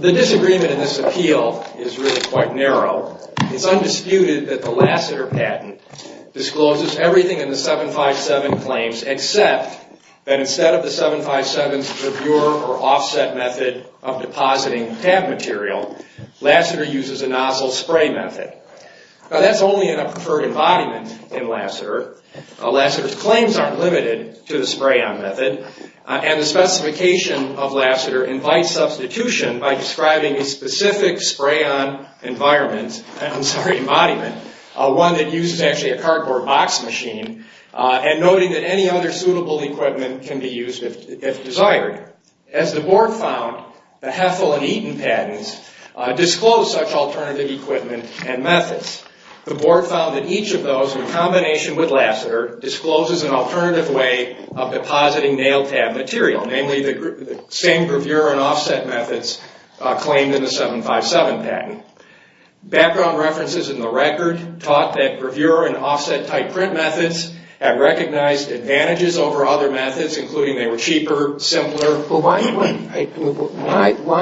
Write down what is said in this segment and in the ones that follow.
The disagreement in this appeal is really quite narrow. It's undisputed that the Lassiter patent discloses everything in the 757 claims except that instead of the 757's purbure or offset method of depositing tab material, Lassiter uses a nozzle spray method. Now that's only in a preferred embodiment in Lassiter. Lassiter's claims aren't limited to the spray-on method and the specification of Lassiter invites substitution by describing a specific spray-on environment, I'm sorry, embodiment, one that uses actually a cardboard box machine, and noting that any other suitable equipment can be used if desired. As the board found, the Heffel and Eaton patents disclose such alternative equipment and methods. The board found that each of those, in combination with Lassiter, discloses an alternative way of depositing nail tab material, namely the same purbure and taught that purbure and offset type print methods had recognized advantages over other methods, including they were cheaper, simpler. Why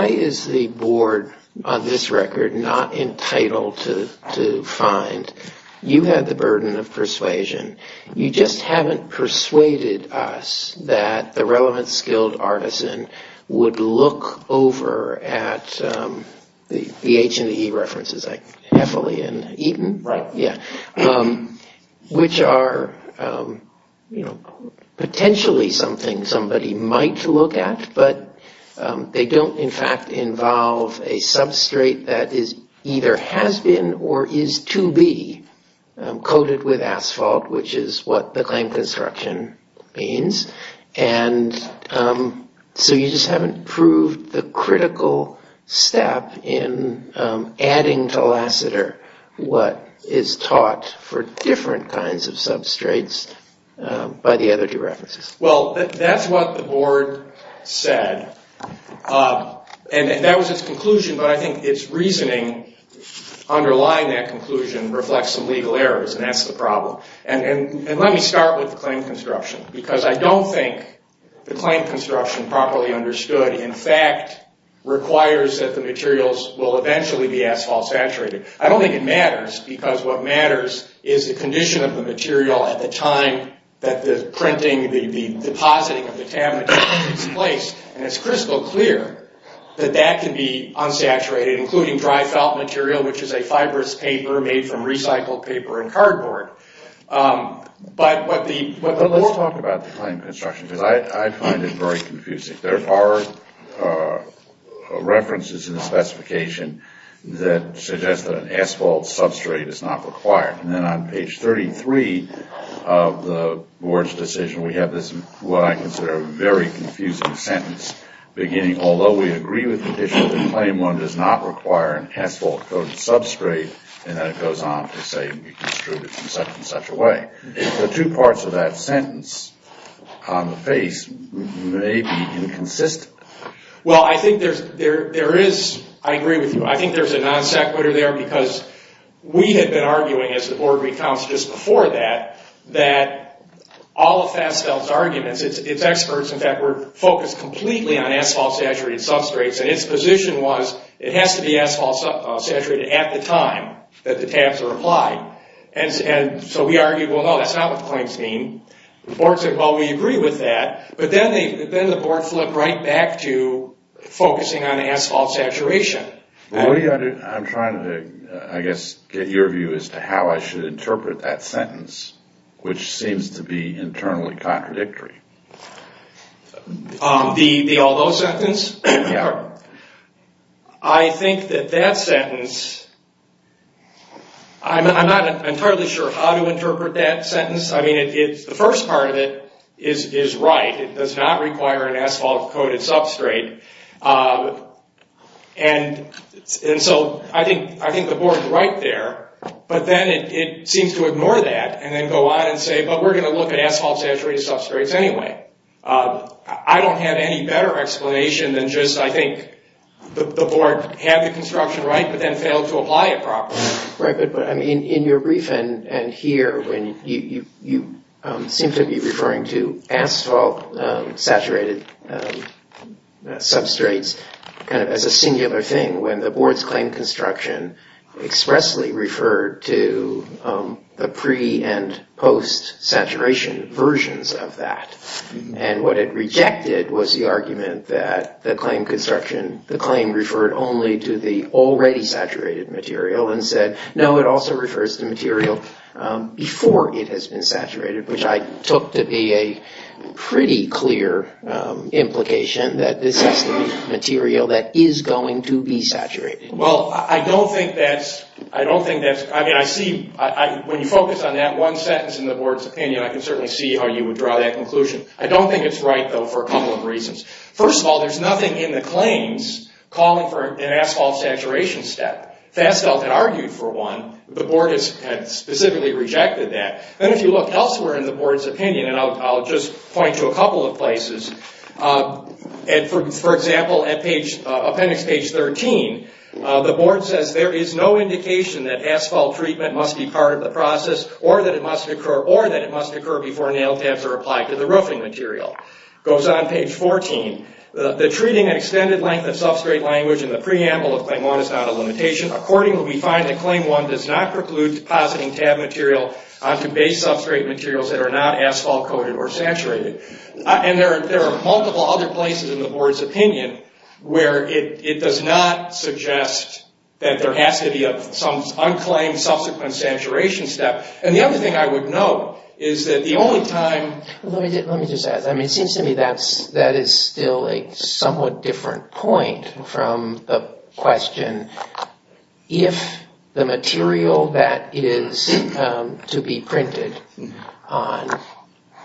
is the board, on this record, not entitled to find? You have the burden of persuasion. You just haven't persuaded us that the relevant skilled artisan would look over at the H and the E references, like Heffel and Eaton, which are, you know, potentially something somebody might look at, but they don't, in fact, involve a substrate that is either has been or is to be coated with asphalt, which is what the claim construction means. And so you just haven't proved the critical step in adding to Lassiter what is taught for different kinds of substrates by the other two references. Well, that's what the board said, and that was its conclusion, but I think its reasoning underlying that conclusion reflects some legal errors, and that's the problem. And let me start with the claim construction, because I don't think the claim construction properly understood, in fact, requires that the materials will eventually be asphalt saturated. I don't think it matters, because what matters is the condition of the material at the time that the printing, the depositing of the tab material takes place, and it's crystal clear that that can be unsaturated, including dry felt material, which is a fibrous paper made from recycled paper and cardboard. But let's talk about the claim construction, because I find it very confusing. There are references in the specification that suggest that an asphalt substrate is not required. And then on page 33 of the board's decision, we have this, what I consider a very confusing sentence, beginning, although we agree with the issue, the claim one does not require an asphalt coated substrate, and then it goes on to say we can extrude it in such and such a way. The two parts of that sentence on the face may be inconsistent. Well, I think there is, I agree with you, I think there's a non sequitur there, because we had been arguing, as the board recounts just before that, that all of Fasfeld's arguments, its experts, in fact, were focused completely on asphalt saturated substrates, and its position was it has to be asphalt saturated at the time that the tabs are applied. And so we argued, well, no, that's not what the claims mean. The board said, well, we agree with that, but then the board flipped right back to focusing on asphalt saturation. I'm trying to, I guess, get your view as to how I should interpret that sentence, which seems to be internally contradictory. The although sentence? Yeah. I think that that I'm not entirely sure how to interpret that sentence. I mean, it's the first part of it is right. It does not require an asphalt coated substrate, and so I think the board is right there, but then it seems to ignore that, and then go on and say, but we're going to look at asphalt saturated substrates anyway. I don't have any better explanation than just, I think, the board had the to apply it properly. Right, but I mean, in your brief, and here, when you seem to be referring to asphalt saturated substrates kind of as a singular thing, when the board's claim construction expressly referred to the pre and post saturation versions of that, and what it rejected was the argument that the claim construction, the claim referred only to the already saturated material, and said no, it also refers to material before it has been saturated, which I took to be a pretty clear implication that this is material that is going to be saturated. Well, I don't think that's, I don't think that's, I mean, I see, when you focus on that one sentence in the board's opinion, I can certainly see how you would draw that conclusion. I don't think it's right, though, for a couple of claims calling for an asphalt saturation step. Fasfeld had argued for one, the board has specifically rejected that, and if you look elsewhere in the board's opinion, and I'll just point to a couple of places, and for example, at page, appendix page 13, the board says there is no indication that asphalt treatment must be part of the process, or that it must occur, or that it must occur before nail tabs are applied to the roofing material. Goes on page 14, the treating an extended length of substrate language in the preamble of claim one is not a limitation. Accordingly, we find that claim one does not preclude depositing tab material onto base substrate materials that are not asphalt coated or saturated. And there are multiple other places in the board's opinion where it does not suggest that there has to be some unclaimed subsequent saturation step. And the other thing I would note is that the somewhat different point from the question, if the material that it is to be printed on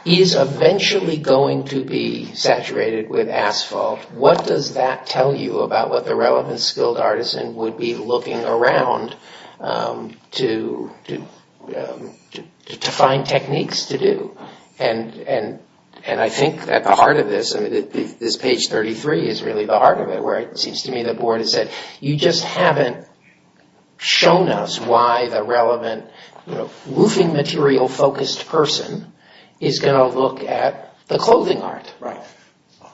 is eventually going to be saturated with asphalt, what does that tell you about what the relevant skilled artisan would be looking around to to find techniques to do? And I think at the heart of this, I mean, this page 33 is really the heart of it, where it seems to me the board has said, you just haven't shown us why the relevant roofing material focused person is going to look at the clothing art. Right,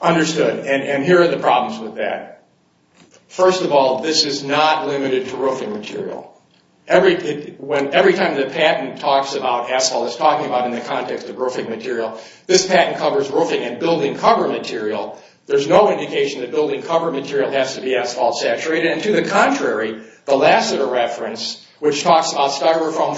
understood, and here are the problems with that. First of all, this is not limited to roofing material. Every time the patent talks about asphalt, it's talking about in the context of roofing material, this patent covers roofing and building cover material. There's no indication that building cover material has to be asphalt saturated. And to the contrary, the Lassiter reference, which talks about styrofoam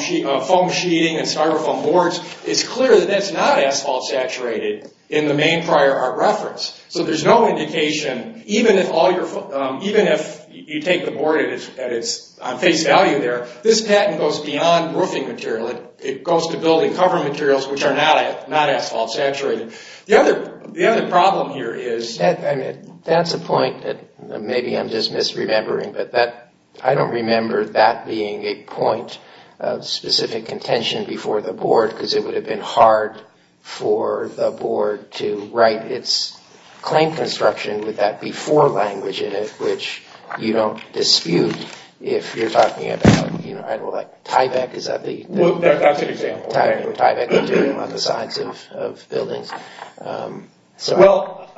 sheeting and styrofoam boards, it's clear that that's not asphalt saturated in the main prior art reference. So there's no indication, even if you take the board at its face value there, this patent goes beyond roofing material. It goes to building cover materials, which are not asphalt saturated. The other problem here is... That's a point that maybe I'm just misremembering, but that I don't remember that being a point of specific contention before the board, because it would have been hard for the board to write its claim construction with that before language in it, which you don't dispute if you're talking about, you know, like Tyvek, is that the... Well, that's an example. Tyvek material on the sides of buildings. Well,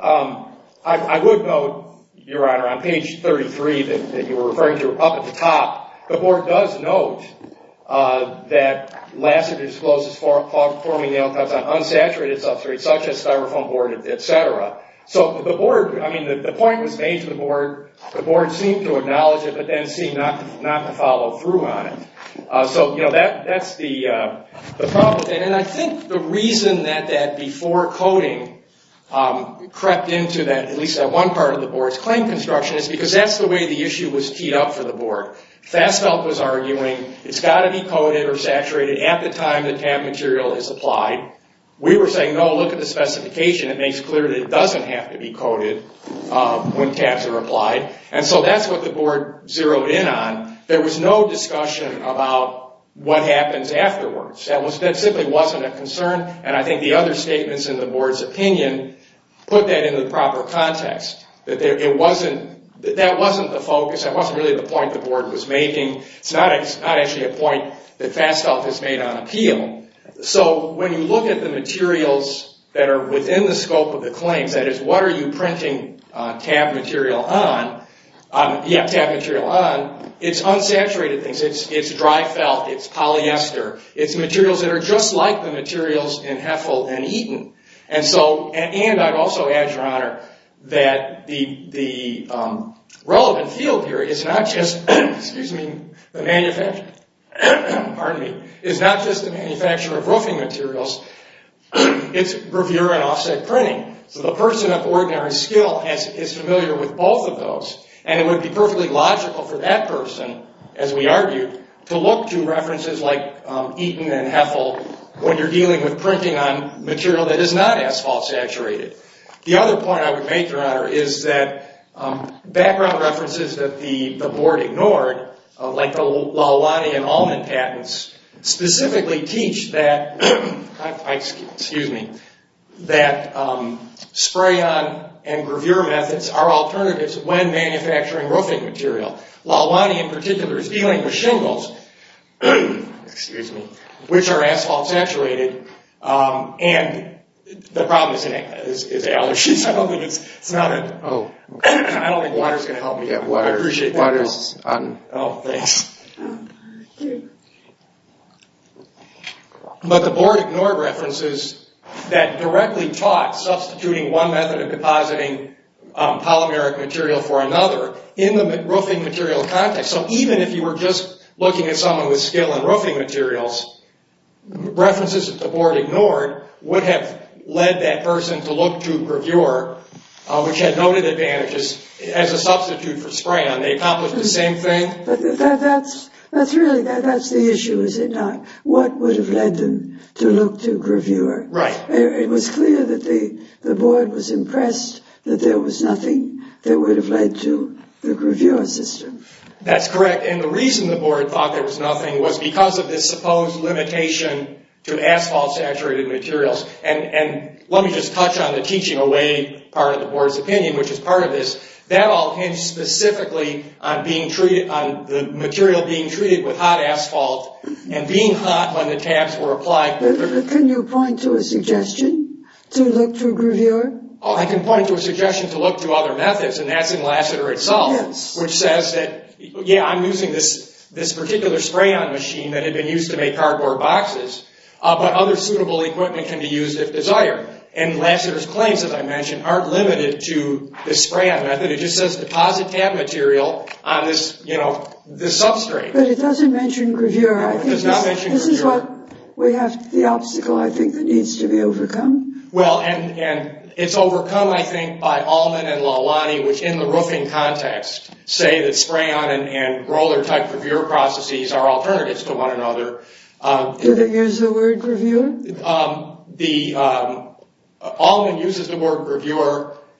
I would note, Your Honor, on page 33 that you were referring to up at the top, the board does note that Lassiter discloses forming nail cuts on unsaturated substrate, such as styrofoam board, etc. So the board, I mean, the point was made to the board seemed to acknowledge it, but then seemed not to follow through on it. So, you know, that's the problem with that. And I think the reason that that before coding crept into that, at least that one part of the board's claim construction, is because that's the way the issue was teed up for the board. Fassbelk was arguing, it's got to be coated or saturated at the time the tab material is applied. We were saying, no, look at the specification. It makes clear that it So that's what the board zeroed in on. There was no discussion about what happens afterwards. That simply wasn't a concern, and I think the other statements in the board's opinion put that in the proper context. That wasn't the focus, that wasn't really the point the board was making. It's not actually a point that Fassbelk has made on appeal. So when you look at the materials that are within the scope of the claims, that is, what are you printing tab material on? Yeah, tab material on. It's unsaturated things. It's dry felt, it's polyester, it's materials that are just like the materials in Heffel and Eaton. And so, and I'd also add, Your Honor, that the relevant field here is not just, excuse me, the manufacturer, pardon me, is not just a manufacturer of roofing materials, it's reviewer and offset printing. So the person of ordinary skill is familiar with both of those, and it would be perfectly logical for that person, as we argued, to look to references like Eaton and Heffel when you're dealing with printing on material that is not asphalt-saturated. The other point I would make, Your Honor, is that background references that the board ignored, like the Lahawany and Ullman patents, specifically teach that spray-on and gravure methods are alternatives when manufacturing roofing material. Lahawany, in particular, is dealing with shingles, which are asphalt-saturated, and the but the board ignored references that directly taught substituting one method of depositing polymeric material for another in the roofing material context. So even if you were just looking at someone with skill in roofing materials, references that the board ignored would have led that person to look to gravure, which had noted advantages, as a substitute for spray-on. They accomplished the same thing. But that's really the issue, is it not? What would have led them to look to gravure? Right. It was clear that the board was impressed that there was nothing that would have led to the gravure system. That's correct, and the reason the board thought there was nothing was because of this supposed limitation to asphalt-saturated materials, and let me just touch on the teaching away part of the board's opinion, which is part of this. That all depends specifically on the material being treated with hot asphalt, and being hot when the tabs were applied. Can you point to a suggestion to look to gravure? I can point to a suggestion to look to other methods, and that's in Lassiter itself, which says that, yeah, I'm using this particular spray-on machine that had been used to make cardboard boxes, but other suitable equipment can be used if desired. And Lassiter's claims, as I mentioned, aren't limited to this spray-on method. It just says deposit tab material on this, you know, this substrate. But it doesn't mention gravure. No, it does not mention gravure. This is what we have the obstacle, I think, that needs to be overcome. Well, and it's overcome, I think, by Allman and Lalani, which in the roofing context say that spray-on and roller-type gravure processes are alternatives to one another. Do they use the word gravure?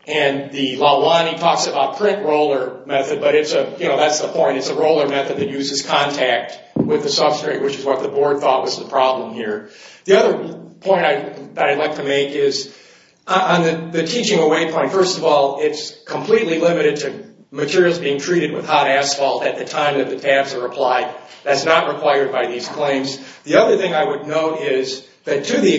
And the Lalani talks about print roller method, but it's a, you know, that's the point. It's a roller method that uses contact with the substrate, which is what the board thought was the problem here. The other point I'd like to make is, on the teaching away point, first of all, it's completely limited to materials being treated with hot asphalt at the time that the tabs are applied. That's not required by these claims. The other thing I would note is that to the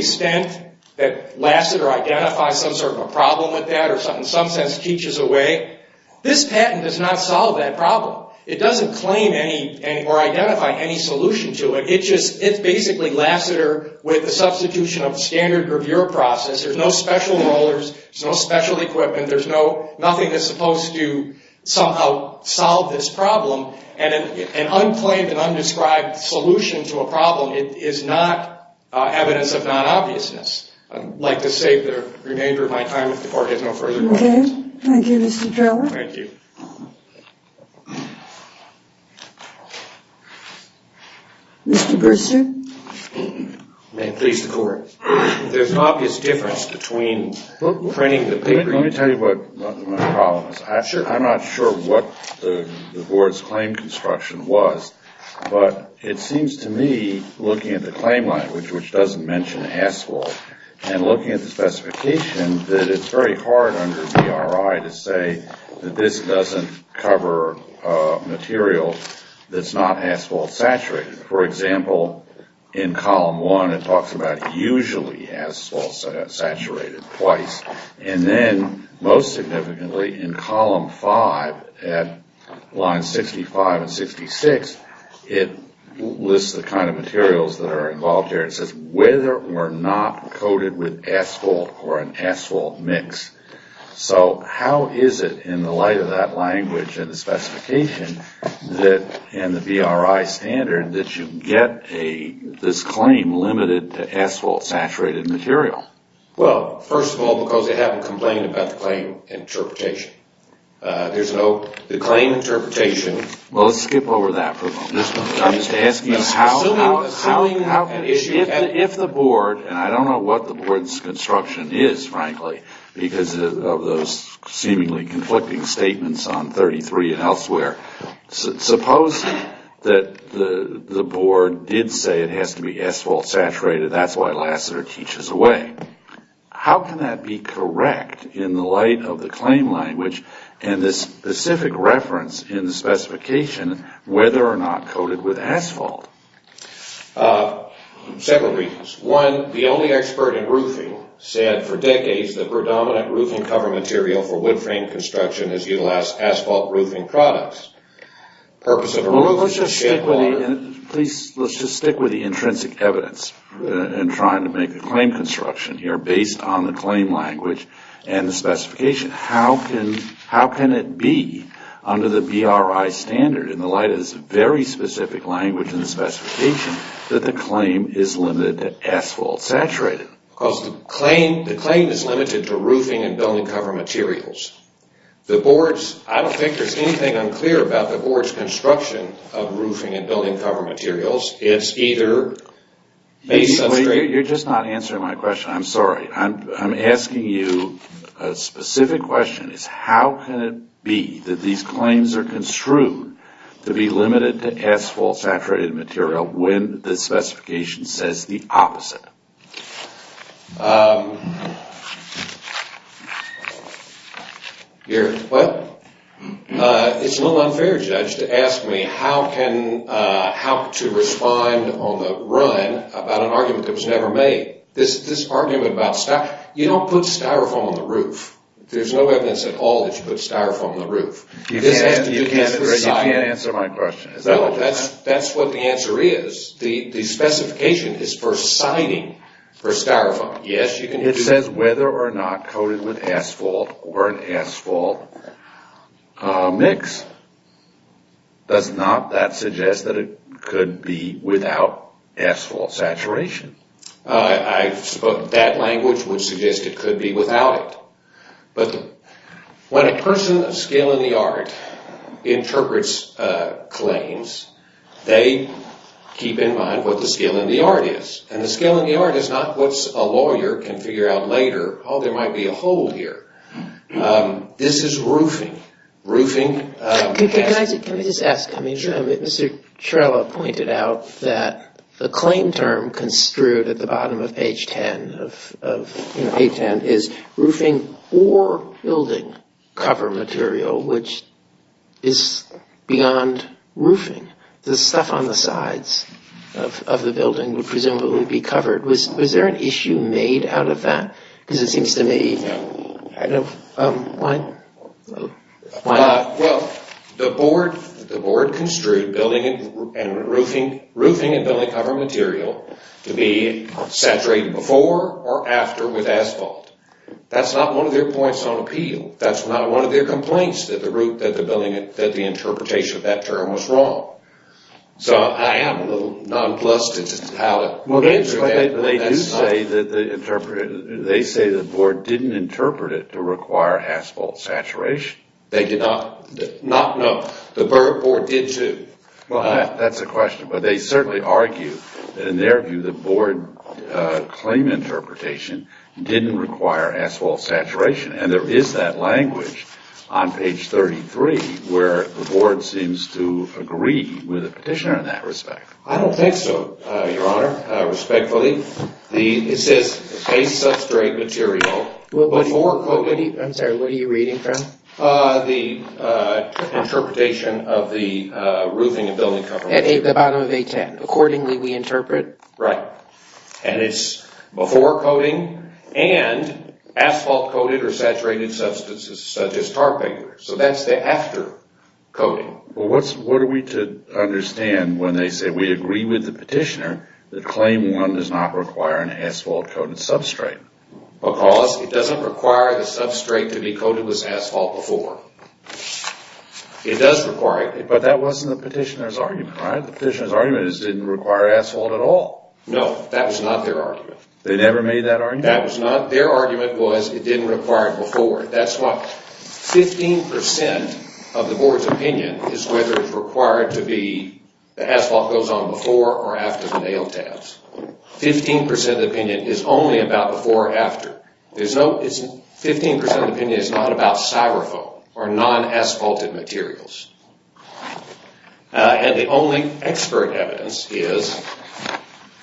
problem with that or something, some sense teaches away, this patent does not solve that problem. It doesn't claim any or identify any solution to it. It just, it's basically Lassiter with the substitution of standard gravure process. There's no special rollers, no special equipment, there's no, nothing that's supposed to somehow solve this problem. And an unplanned and undescribed solution to a problem, it is not evidence of non-obviousness. I'd like to save the remainder of my time if the board has no further questions. Okay. Thank you, Mr. Trello. Thank you. Mr. Brewster. May it please the court. There's an obvious difference between printing the paper... Let me tell you what my problem is. I'm not sure what the board's claim construction was, but it seems to me, looking at the claim language, which doesn't mention asphalt, and looking at the specification, that it's very hard under DRI to say that this doesn't cover material that's not asphalt-saturated. For example, in column 1, it talks about usually asphalt-saturated twice. And then, most significantly, in column 5, at line 65 and 66, it lists the kind of materials that are involved here and says whether or not coated with asphalt or an asphalt mix. So how is it, in the light of that language and the specification and the DRI standard, that you get this claim limited to asphalt-saturated material? Well, first of all, because they haven't complained about the claim interpretation. There's no... The claim interpretation... Well, let's skip over that for a moment. I'm just asking how... Assuming... Assuming how... If the board, and I don't know what the board's construction is, frankly, because of those seemingly conflicting statements on 33 and elsewhere, suppose that the board did say it has to be asphalt-saturated, that's why Lasseter teaches away. How can that be correct in the light of the claim language and this specific reference in the specification whether or not coated with asphalt? Several reasons. One, the only expert in roofing said for decades the predominant roofing cover material for wood frame construction is utilized asphalt roofing products. The purpose of a roof is to... Well, let's just stick with the... Please, let's just stick with the intrinsic evidence in trying to make a claim construction here based on the claim language and the specification. How can... How can it be under the BRI standard in the light of this very specific language in the specification that the claim is limited to asphalt-saturated? Because the claim... The claim is limited to roofing and building cover materials. The board's... I don't think there's anything unclear about the board's construction of roofing and building cover materials. It's either... You're just not answering my question. I'm sorry. I'm asking you a specific question is how can it be that these claims are construed to be limited to asphalt-saturated material when the specification says the opposite? You're... Well, it's a little unfair, Judge, to ask me how can... How to respond on the run about an argument that was never made. This argument about styrofoam... You don't put styrofoam on the roof. There's no evidence at all that you put styrofoam on the roof. You can't answer my question. No, that's what the answer is. The specification is for siding for styrofoam. Yes, you can... It says whether or not coated with asphalt or an asphalt mix. Does not that suggest that it could be without asphalt saturation? I suppose that language would suggest it could be without it, but when a person of skill in the art interprets claims, they keep in mind what the skill in the art is, and the skill in the art is not what a lawyer can figure out later. Oh, there might be a hole here. This is roofing. Roofing... Can I just ask? Mr. Trella pointed out that the claim term construed at the bottom of page 10 is roofing or building cover material, which is beyond roofing. The stuff on the sides of the building would presumably be covered. Was there an issue made out of that? Because it seems to me... Well, the board construed roofing and building cover material to be saturated before or after with asphalt. That's not one of their points on appeal. That's not one of their complaints that the interpretation of that term was wrong. So I am a little nonplussed as to how to answer that. But they do say that the board didn't interpret it to require asphalt saturation. They did not. No, the board did too. That's a question, but they certainly argue that in their view the board claim interpretation didn't require asphalt saturation, and there is that language on page 33 where the board seems to agree with the petitioner in that respect. I don't think so, Your Honor, respectfully. It says a substrate material... I'm sorry, what are you reading from? The interpretation of the roofing and building cover material. The bottom of page 10. Accordingly we interpret? Right. And it's before coating and asphalt coated or saturated substances such as tar paper. So that's the after coating. Well, what are we to understand when they say we agree with the petitioner that claim one does not require an asphalt coated substrate? Because it doesn't require the substrate to be coated with asphalt before. It does require it. But that wasn't the petitioner's argument, right? The petitioner's argument is it didn't require asphalt at all. No, that was not their argument. They never made that argument? That was not. Their argument was it didn't require it before. That's what 15 percent of the board's opinion is whether it's required to be the asphalt goes on before or after the nail tabs. 15 percent of the opinion is only about before or after. 15 percent of the opinion is not about styrofoam or non-asphalted materials. And the only expert evidence is...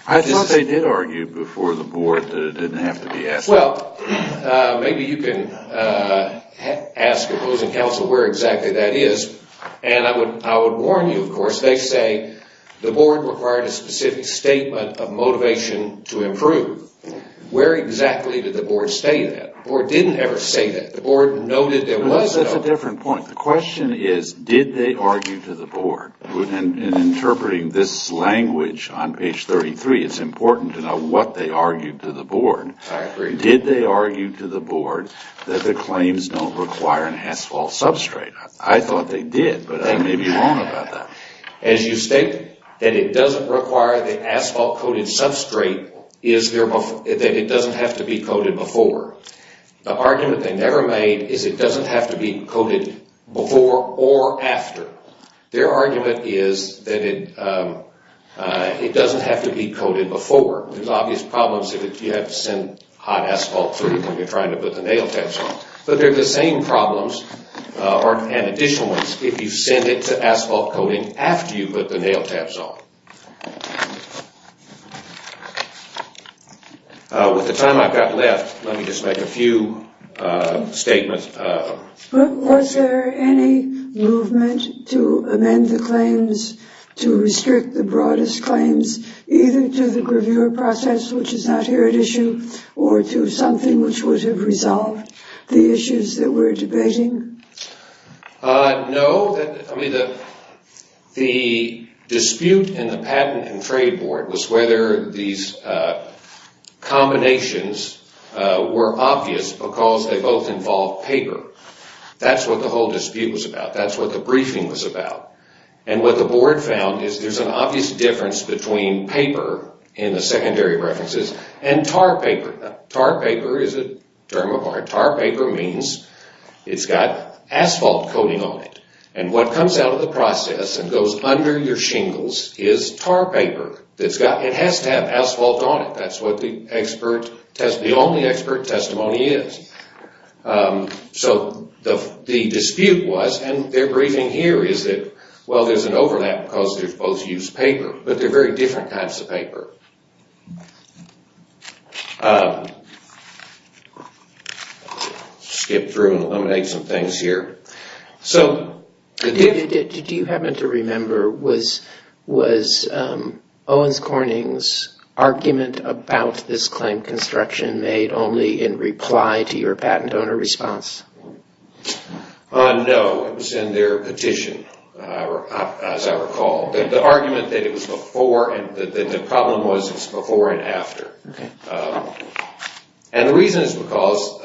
I thought they did argue before the board that it didn't have to be asphalt. Well, maybe you can ask opposing counsel where exactly that is. And I would warn you, of course, they say the board required a specific statement of motivation to improve. Where exactly did the board state that? The board didn't ever say that. The board noted there was... That's a different point. The question is did they argue to the board? In interpreting this language on page 33, it's important to know what they argued to the board. Did they argue to the board that the claims don't require an asphalt substrate? I thought they did, but I may be wrong about that. As you state that it doesn't require the asphalt coated substrate is there... That it doesn't have to be coated before. The argument they never made is it doesn't have to be coated before or after. Their argument is that it doesn't have to be coated before. There's obvious problems if you have to send hot asphalt through when you're trying to put the nail tabs on. But they're the same problems and additional ones if you send it to asphalt coating after you put the nail tabs on. With the time I've got left, let me just make a few statements. Was there any movement to amend the claims to restrict the broadest claims either to the gravure process which is not here at issue or to something which would have resolved the issues that we're debating? No. I mean the dispute in the patent and trade board was whether these combinations were obvious because they both involve paper. That's what the whole dispute was about. That's what the briefing was about. And what the board found is there's an obvious difference between paper in the secondary preferences and tar paper. Tar paper is a term of art. Tar paper means it's got asphalt coating on it. And what comes out of the process and goes under your shingles is tar paper. It has to have asphalt on it. That's what the only expert testimony is. So the dispute was and their briefing here is that well there's an overlap because they both use paper but they're very different types of paper. Skip through and eliminate some things here. So did you happen to remember was Owens Corning's argument about this claim construction made only in reply to your argument that the problem was before and after. And the reason is because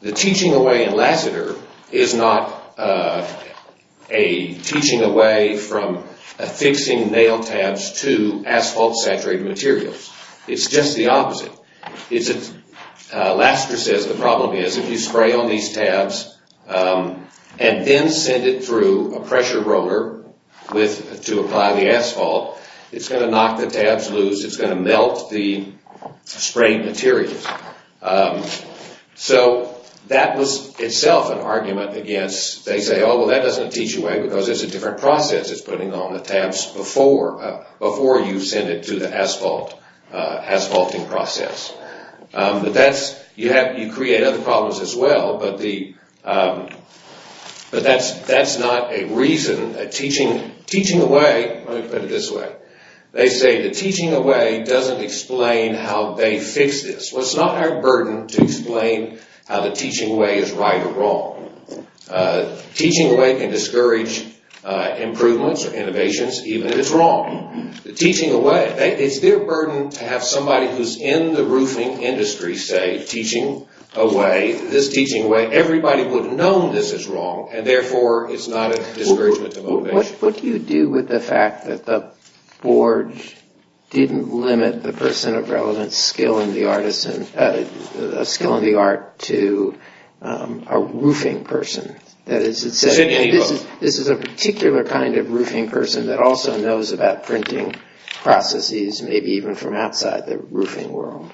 the teaching away in Lassiter is not a teaching away from affixing nail tabs to asphalt saturated materials. It's just the opposite. Lassiter says the problem is if you apply the asphalt it's going to knock the tabs loose. It's going to melt the sprayed material. So that was itself an argument against they say oh well that doesn't teach away because it's a different process. It's putting on the tabs before you send it to the asphalt asphalting process. You create other problems as well but that's not a reason. Teaching away let me put it this way. They say the teaching away doesn't explain how they fix this. Well it's not our burden to explain how the teaching way is right or wrong. Teaching away can discourage improvements or innovations even if it's wrong. The teaching away it's their burden to have somebody who's in the roofing industry say teaching away this teaching way everybody would have known this is wrong and therefore it's not a discouragement. What do you do with the fact that the board didn't limit the person of relevant skill in the art to a roofing person? This is a particular kind of roofing person that also knows about printing processes maybe even from outside the roofing world.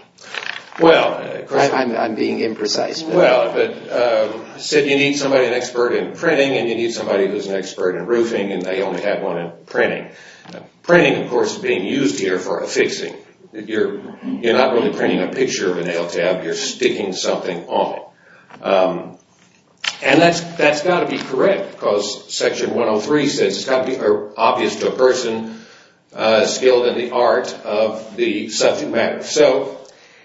I'm being imprecise. You need an expert in printing and you need somebody who's an expert in roofing and they only have one in printing. Printing of course is being used here for affixing. You're not really printing a picture of a nail tab you're sticking something on it. That's got to be correct because section 103 says it's got to be obvious to a person's skill in the art of the subject matter.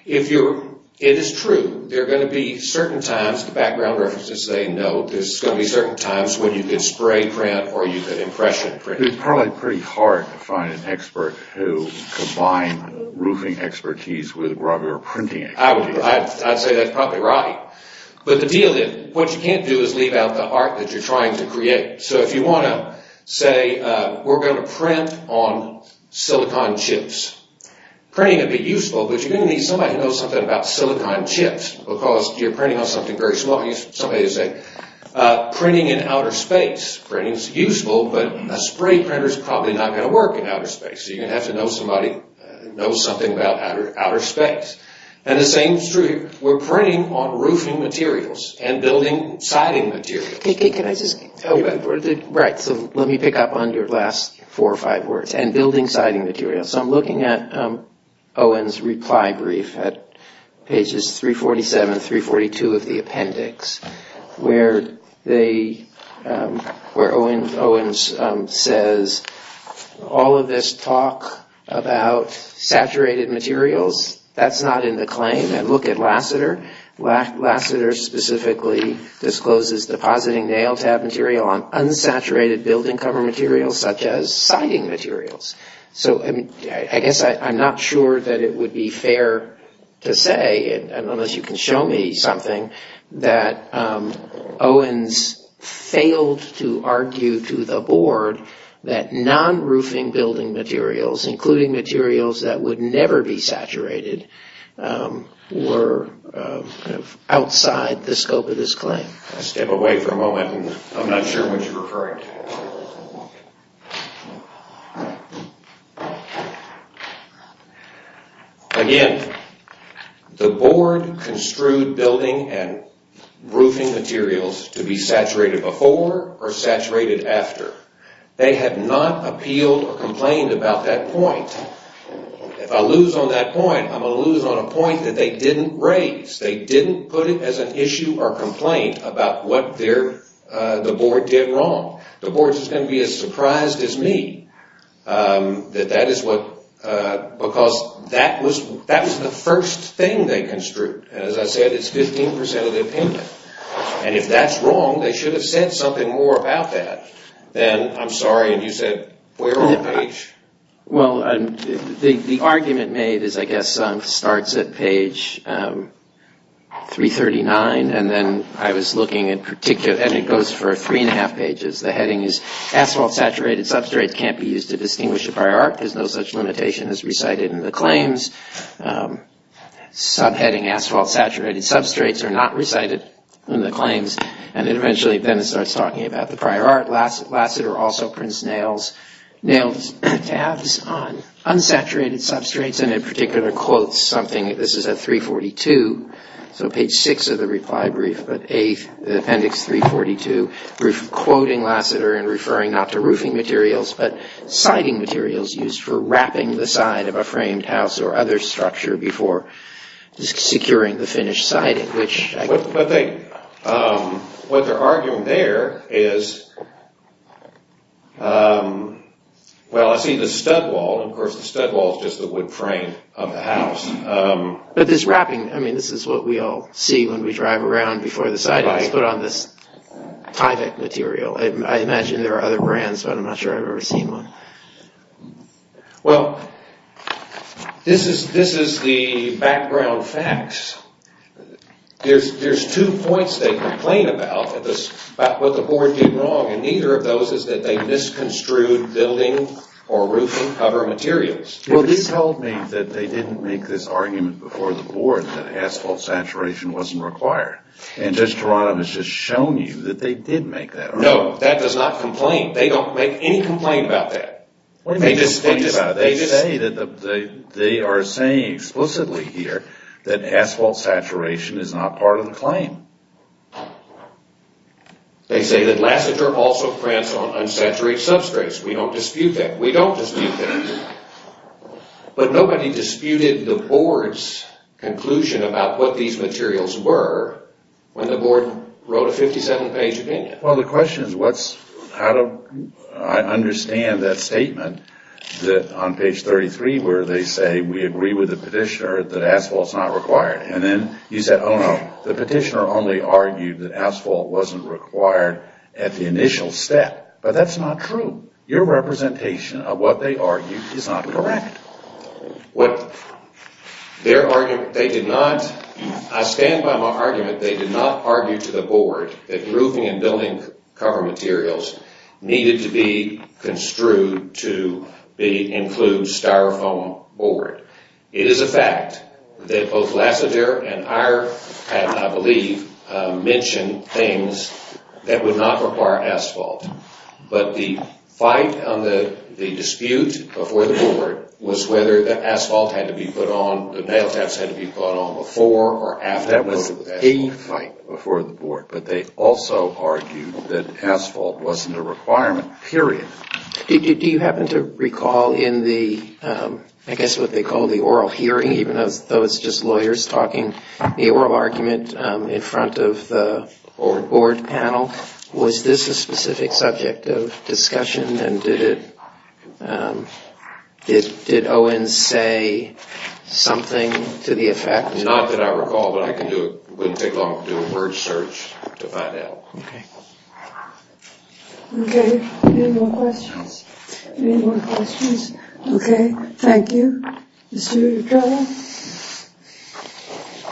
If it is true there are going to be certain times the background references say no. There's going to be certain times when you could spray print or you could impression print. It's probably pretty hard to find an expert who combines roofing expertise with grubber printing. I'd say that's probably right but the deal is what you can't do is leave out the art that you're trying to create. So if you want to say we're going to print on silicon chips printing would be useful but you're printing on something very small. Printing in outer space is useful but a spray printer is probably not going to work in outer space. You're going to have to know somebody who knows something about outer space. The same is true here. We're printing on roofing materials and building siding materials. Let me pick up on your last four or five words and building siding materials. I'm looking at Owen's reply brief at pages 347, 342 of the appendix where Owen says all of this talk about saturated materials, that's not in the claim. Look at Lasseter. Lasseter specifically discloses depositing nail tab material on unsaturated building cover materials such as siding materials. So I guess I'm not sure that it would be fair to say, unless you can show me something, that Owen's failed to argue to the board that non-roofing building materials, including materials that would never be saturated, were outside the scope of this claim. Step away for a moment. I'm not sure what you're referring to. Again, the board construed building and roofing materials to be saturated before or saturated after. They have not appealed or complained about that point. If I lose on that point, I'm going to lose on a point that they didn't raise. They didn't put it as an issue or complaint about what the board did wrong. The board is going to be as surprised as me that that is what, because that was the first thing they construed. As I said, it's 15 percent of the opinion. And if that's wrong, they should have said something more about that than, I'm sorry, and you said, we're on page... Well, the argument made is, I guess, starts at page 339, and then I was looking at particular... And it goes for three and a half pages. The heading is, asphalt saturated substrates can't be used to distinguish a prior art. There's no such limitation as recited in the claims. Subheading asphalt saturated substrates are not recited in the claims. And eventually, then it starts talking about the prior art. Lassiter also prints nailed tabs on unsaturated substrates, and in particular, quotes something. This is at 342, so page 6 of the reply brief, but the appendix 342, quoting Lassiter and referring not to roofing materials, but siding materials used for wrapping the side of a framed house or other structure before securing the finished siding, which... What they're arguing there is well, I see the stud wall. Of course, the stud wall is just the wood frame of the house. But this wrapping, I mean, this is what we all see when we drive around before the siding is put on this Tyvek material. I imagine there are other brands, but I'm not sure I've ever seen one. Well, this is the background facts. There's two points they complain about, what the board did wrong, and neither of those is that they misconstrued building or roofing cover materials. Well, this told me that they didn't make this argument before the board that asphalt saturation wasn't required. And Judge Geronimo has just shown you that they did make that argument. No, that does not complain. They don't make any complaint about that. They say that they are saying explicitly here that asphalt saturation is not part of the claim. They say that Lassiter also prints on unsaturated substrates. We don't dispute that. We don't dispute that. But nobody disputed the board's conclusion about what these materials were when the board wrote a 57-page opinion. Well, the question is how do I understand that statement that on page 33 where they say we agree with the petitioner that asphalt's not required. And then you said, oh, no, the petitioner only argued that asphalt wasn't required at the initial step. But that's not true. Your representation of what they argued is not correct. I stand by my argument they did not argue to the board that roofing and building cover materials needed to be construed to include styrofoam board. It is a fact that both Lassiter and Iyer had, I believe, mentioned things that would not require asphalt. But the fight on the dispute before the board was whether the asphalt had to be put on, the nail taps had to be put on before or after. That was the fight before the board. But they also argued that asphalt wasn't a requirement, period. Do you happen to recall in the, I guess what they call the oral hearing, even though it's just lawyers talking, the oral argument in front of the board panel? Was this a specific subject of discussion? And did Owen say something to the effect? Not that I recall, but it wouldn't take long to do a word Thank you. Mr. Duran.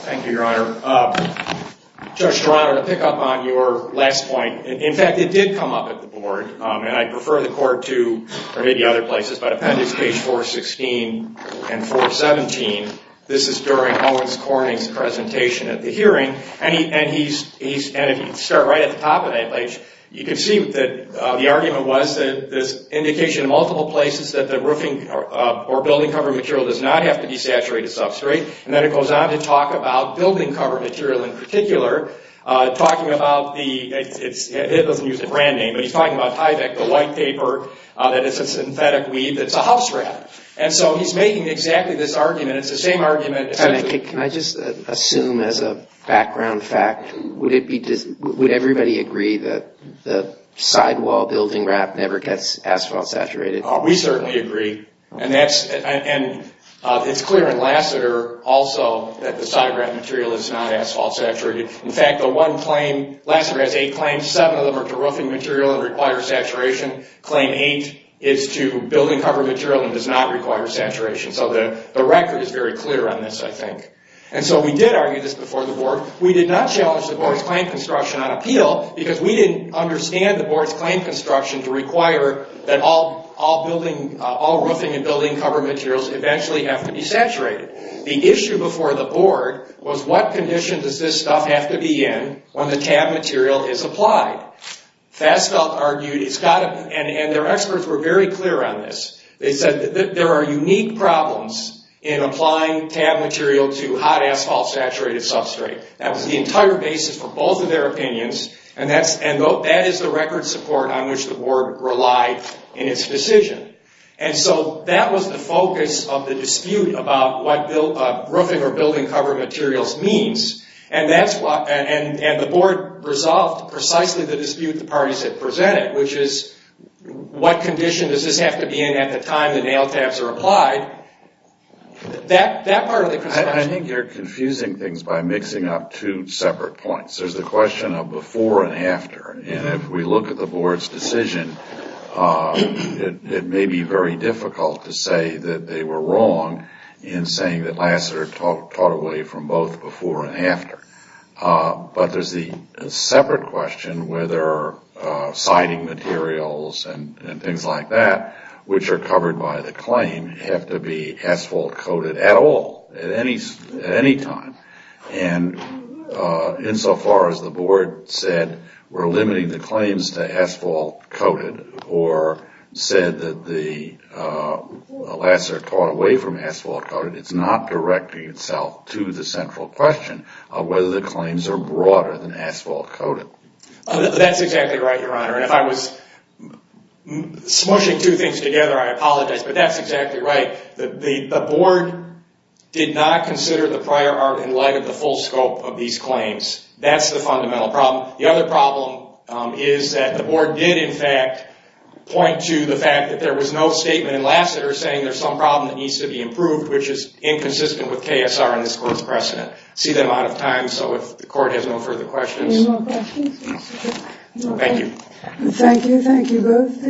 Thank you, Your Honor. Judge Duran, to pick up on your last point, in fact, it did come up at the board. And I prefer the court to, or maybe other places, but appendix page 416 and 417, this is during Owen Corning's presentation at the hearing. And if you start right at the top of that page, you can see that the argument was that indication in multiple places that the roofing or building cover material does not have to be saturated substrate. And then it goes on to talk about building cover material in particular, talking about the, it doesn't use a brand name, but he's talking about Tyvek, the white paper, that it's a synthetic weed that's a housewrap. And so he's making exactly this argument. It's the same argument essentially. Can I just assume as a background fact, would everybody agree that the sidewall building wrap never gets asphalt saturated? We certainly agree. And it's clear in Lassiter also that the sidewrap material is not asphalt saturated. In fact, the one claim, Lassiter has eight claims, seven of them are to roofing material and require saturation. Claim eight is to building cover material and does not require saturation. So the record is very clear on this, I think. And so we did argue this before the board. We did not challenge the board's claim construction on appeal because we didn't understand the board's claim construction to require that all roofing and building cover materials eventually have to be saturated. The issue before the board was what condition does this stuff have to be in when the tab material is applied? Fassfeldt argued, and their experts were very clear on this. They said that there are unique problems in applying tab material to hot substrate. That was the entire basis for both of their opinions, and that is the record support on which the board relied in its decision. And so that was the focus of the dispute about what roofing or building cover materials means. And the board resolved precisely the dispute the parties had presented, which is what condition does this have to be in at the time the nail I think you're confusing things by mixing up two separate points. There's the question of before and after, and if we look at the board's decision, it may be very difficult to say that they were wrong in saying that Lassiter taught away from both before and after. But there's the separate question whether siding materials and things like that, which are covered by the claim, have to be asphalt coated at all, at any time. And insofar as the board said we're limiting the claims to asphalt coated or said that the Lassiter taught away from asphalt coated, it's not directing itself to the central question of whether the claims are broader than asphalt But that's exactly right. The board did not consider the prior art in light of the full scope of these claims. That's the fundamental problem. The other problem is that the board did in fact point to the fact that there was no statement in Lassiter saying there's some problem that needs to be improved, which is inconsistent with KSR and this court's precedent. See them out of time, so if the court has no further questions. Thank you. Thank you. Thank you both.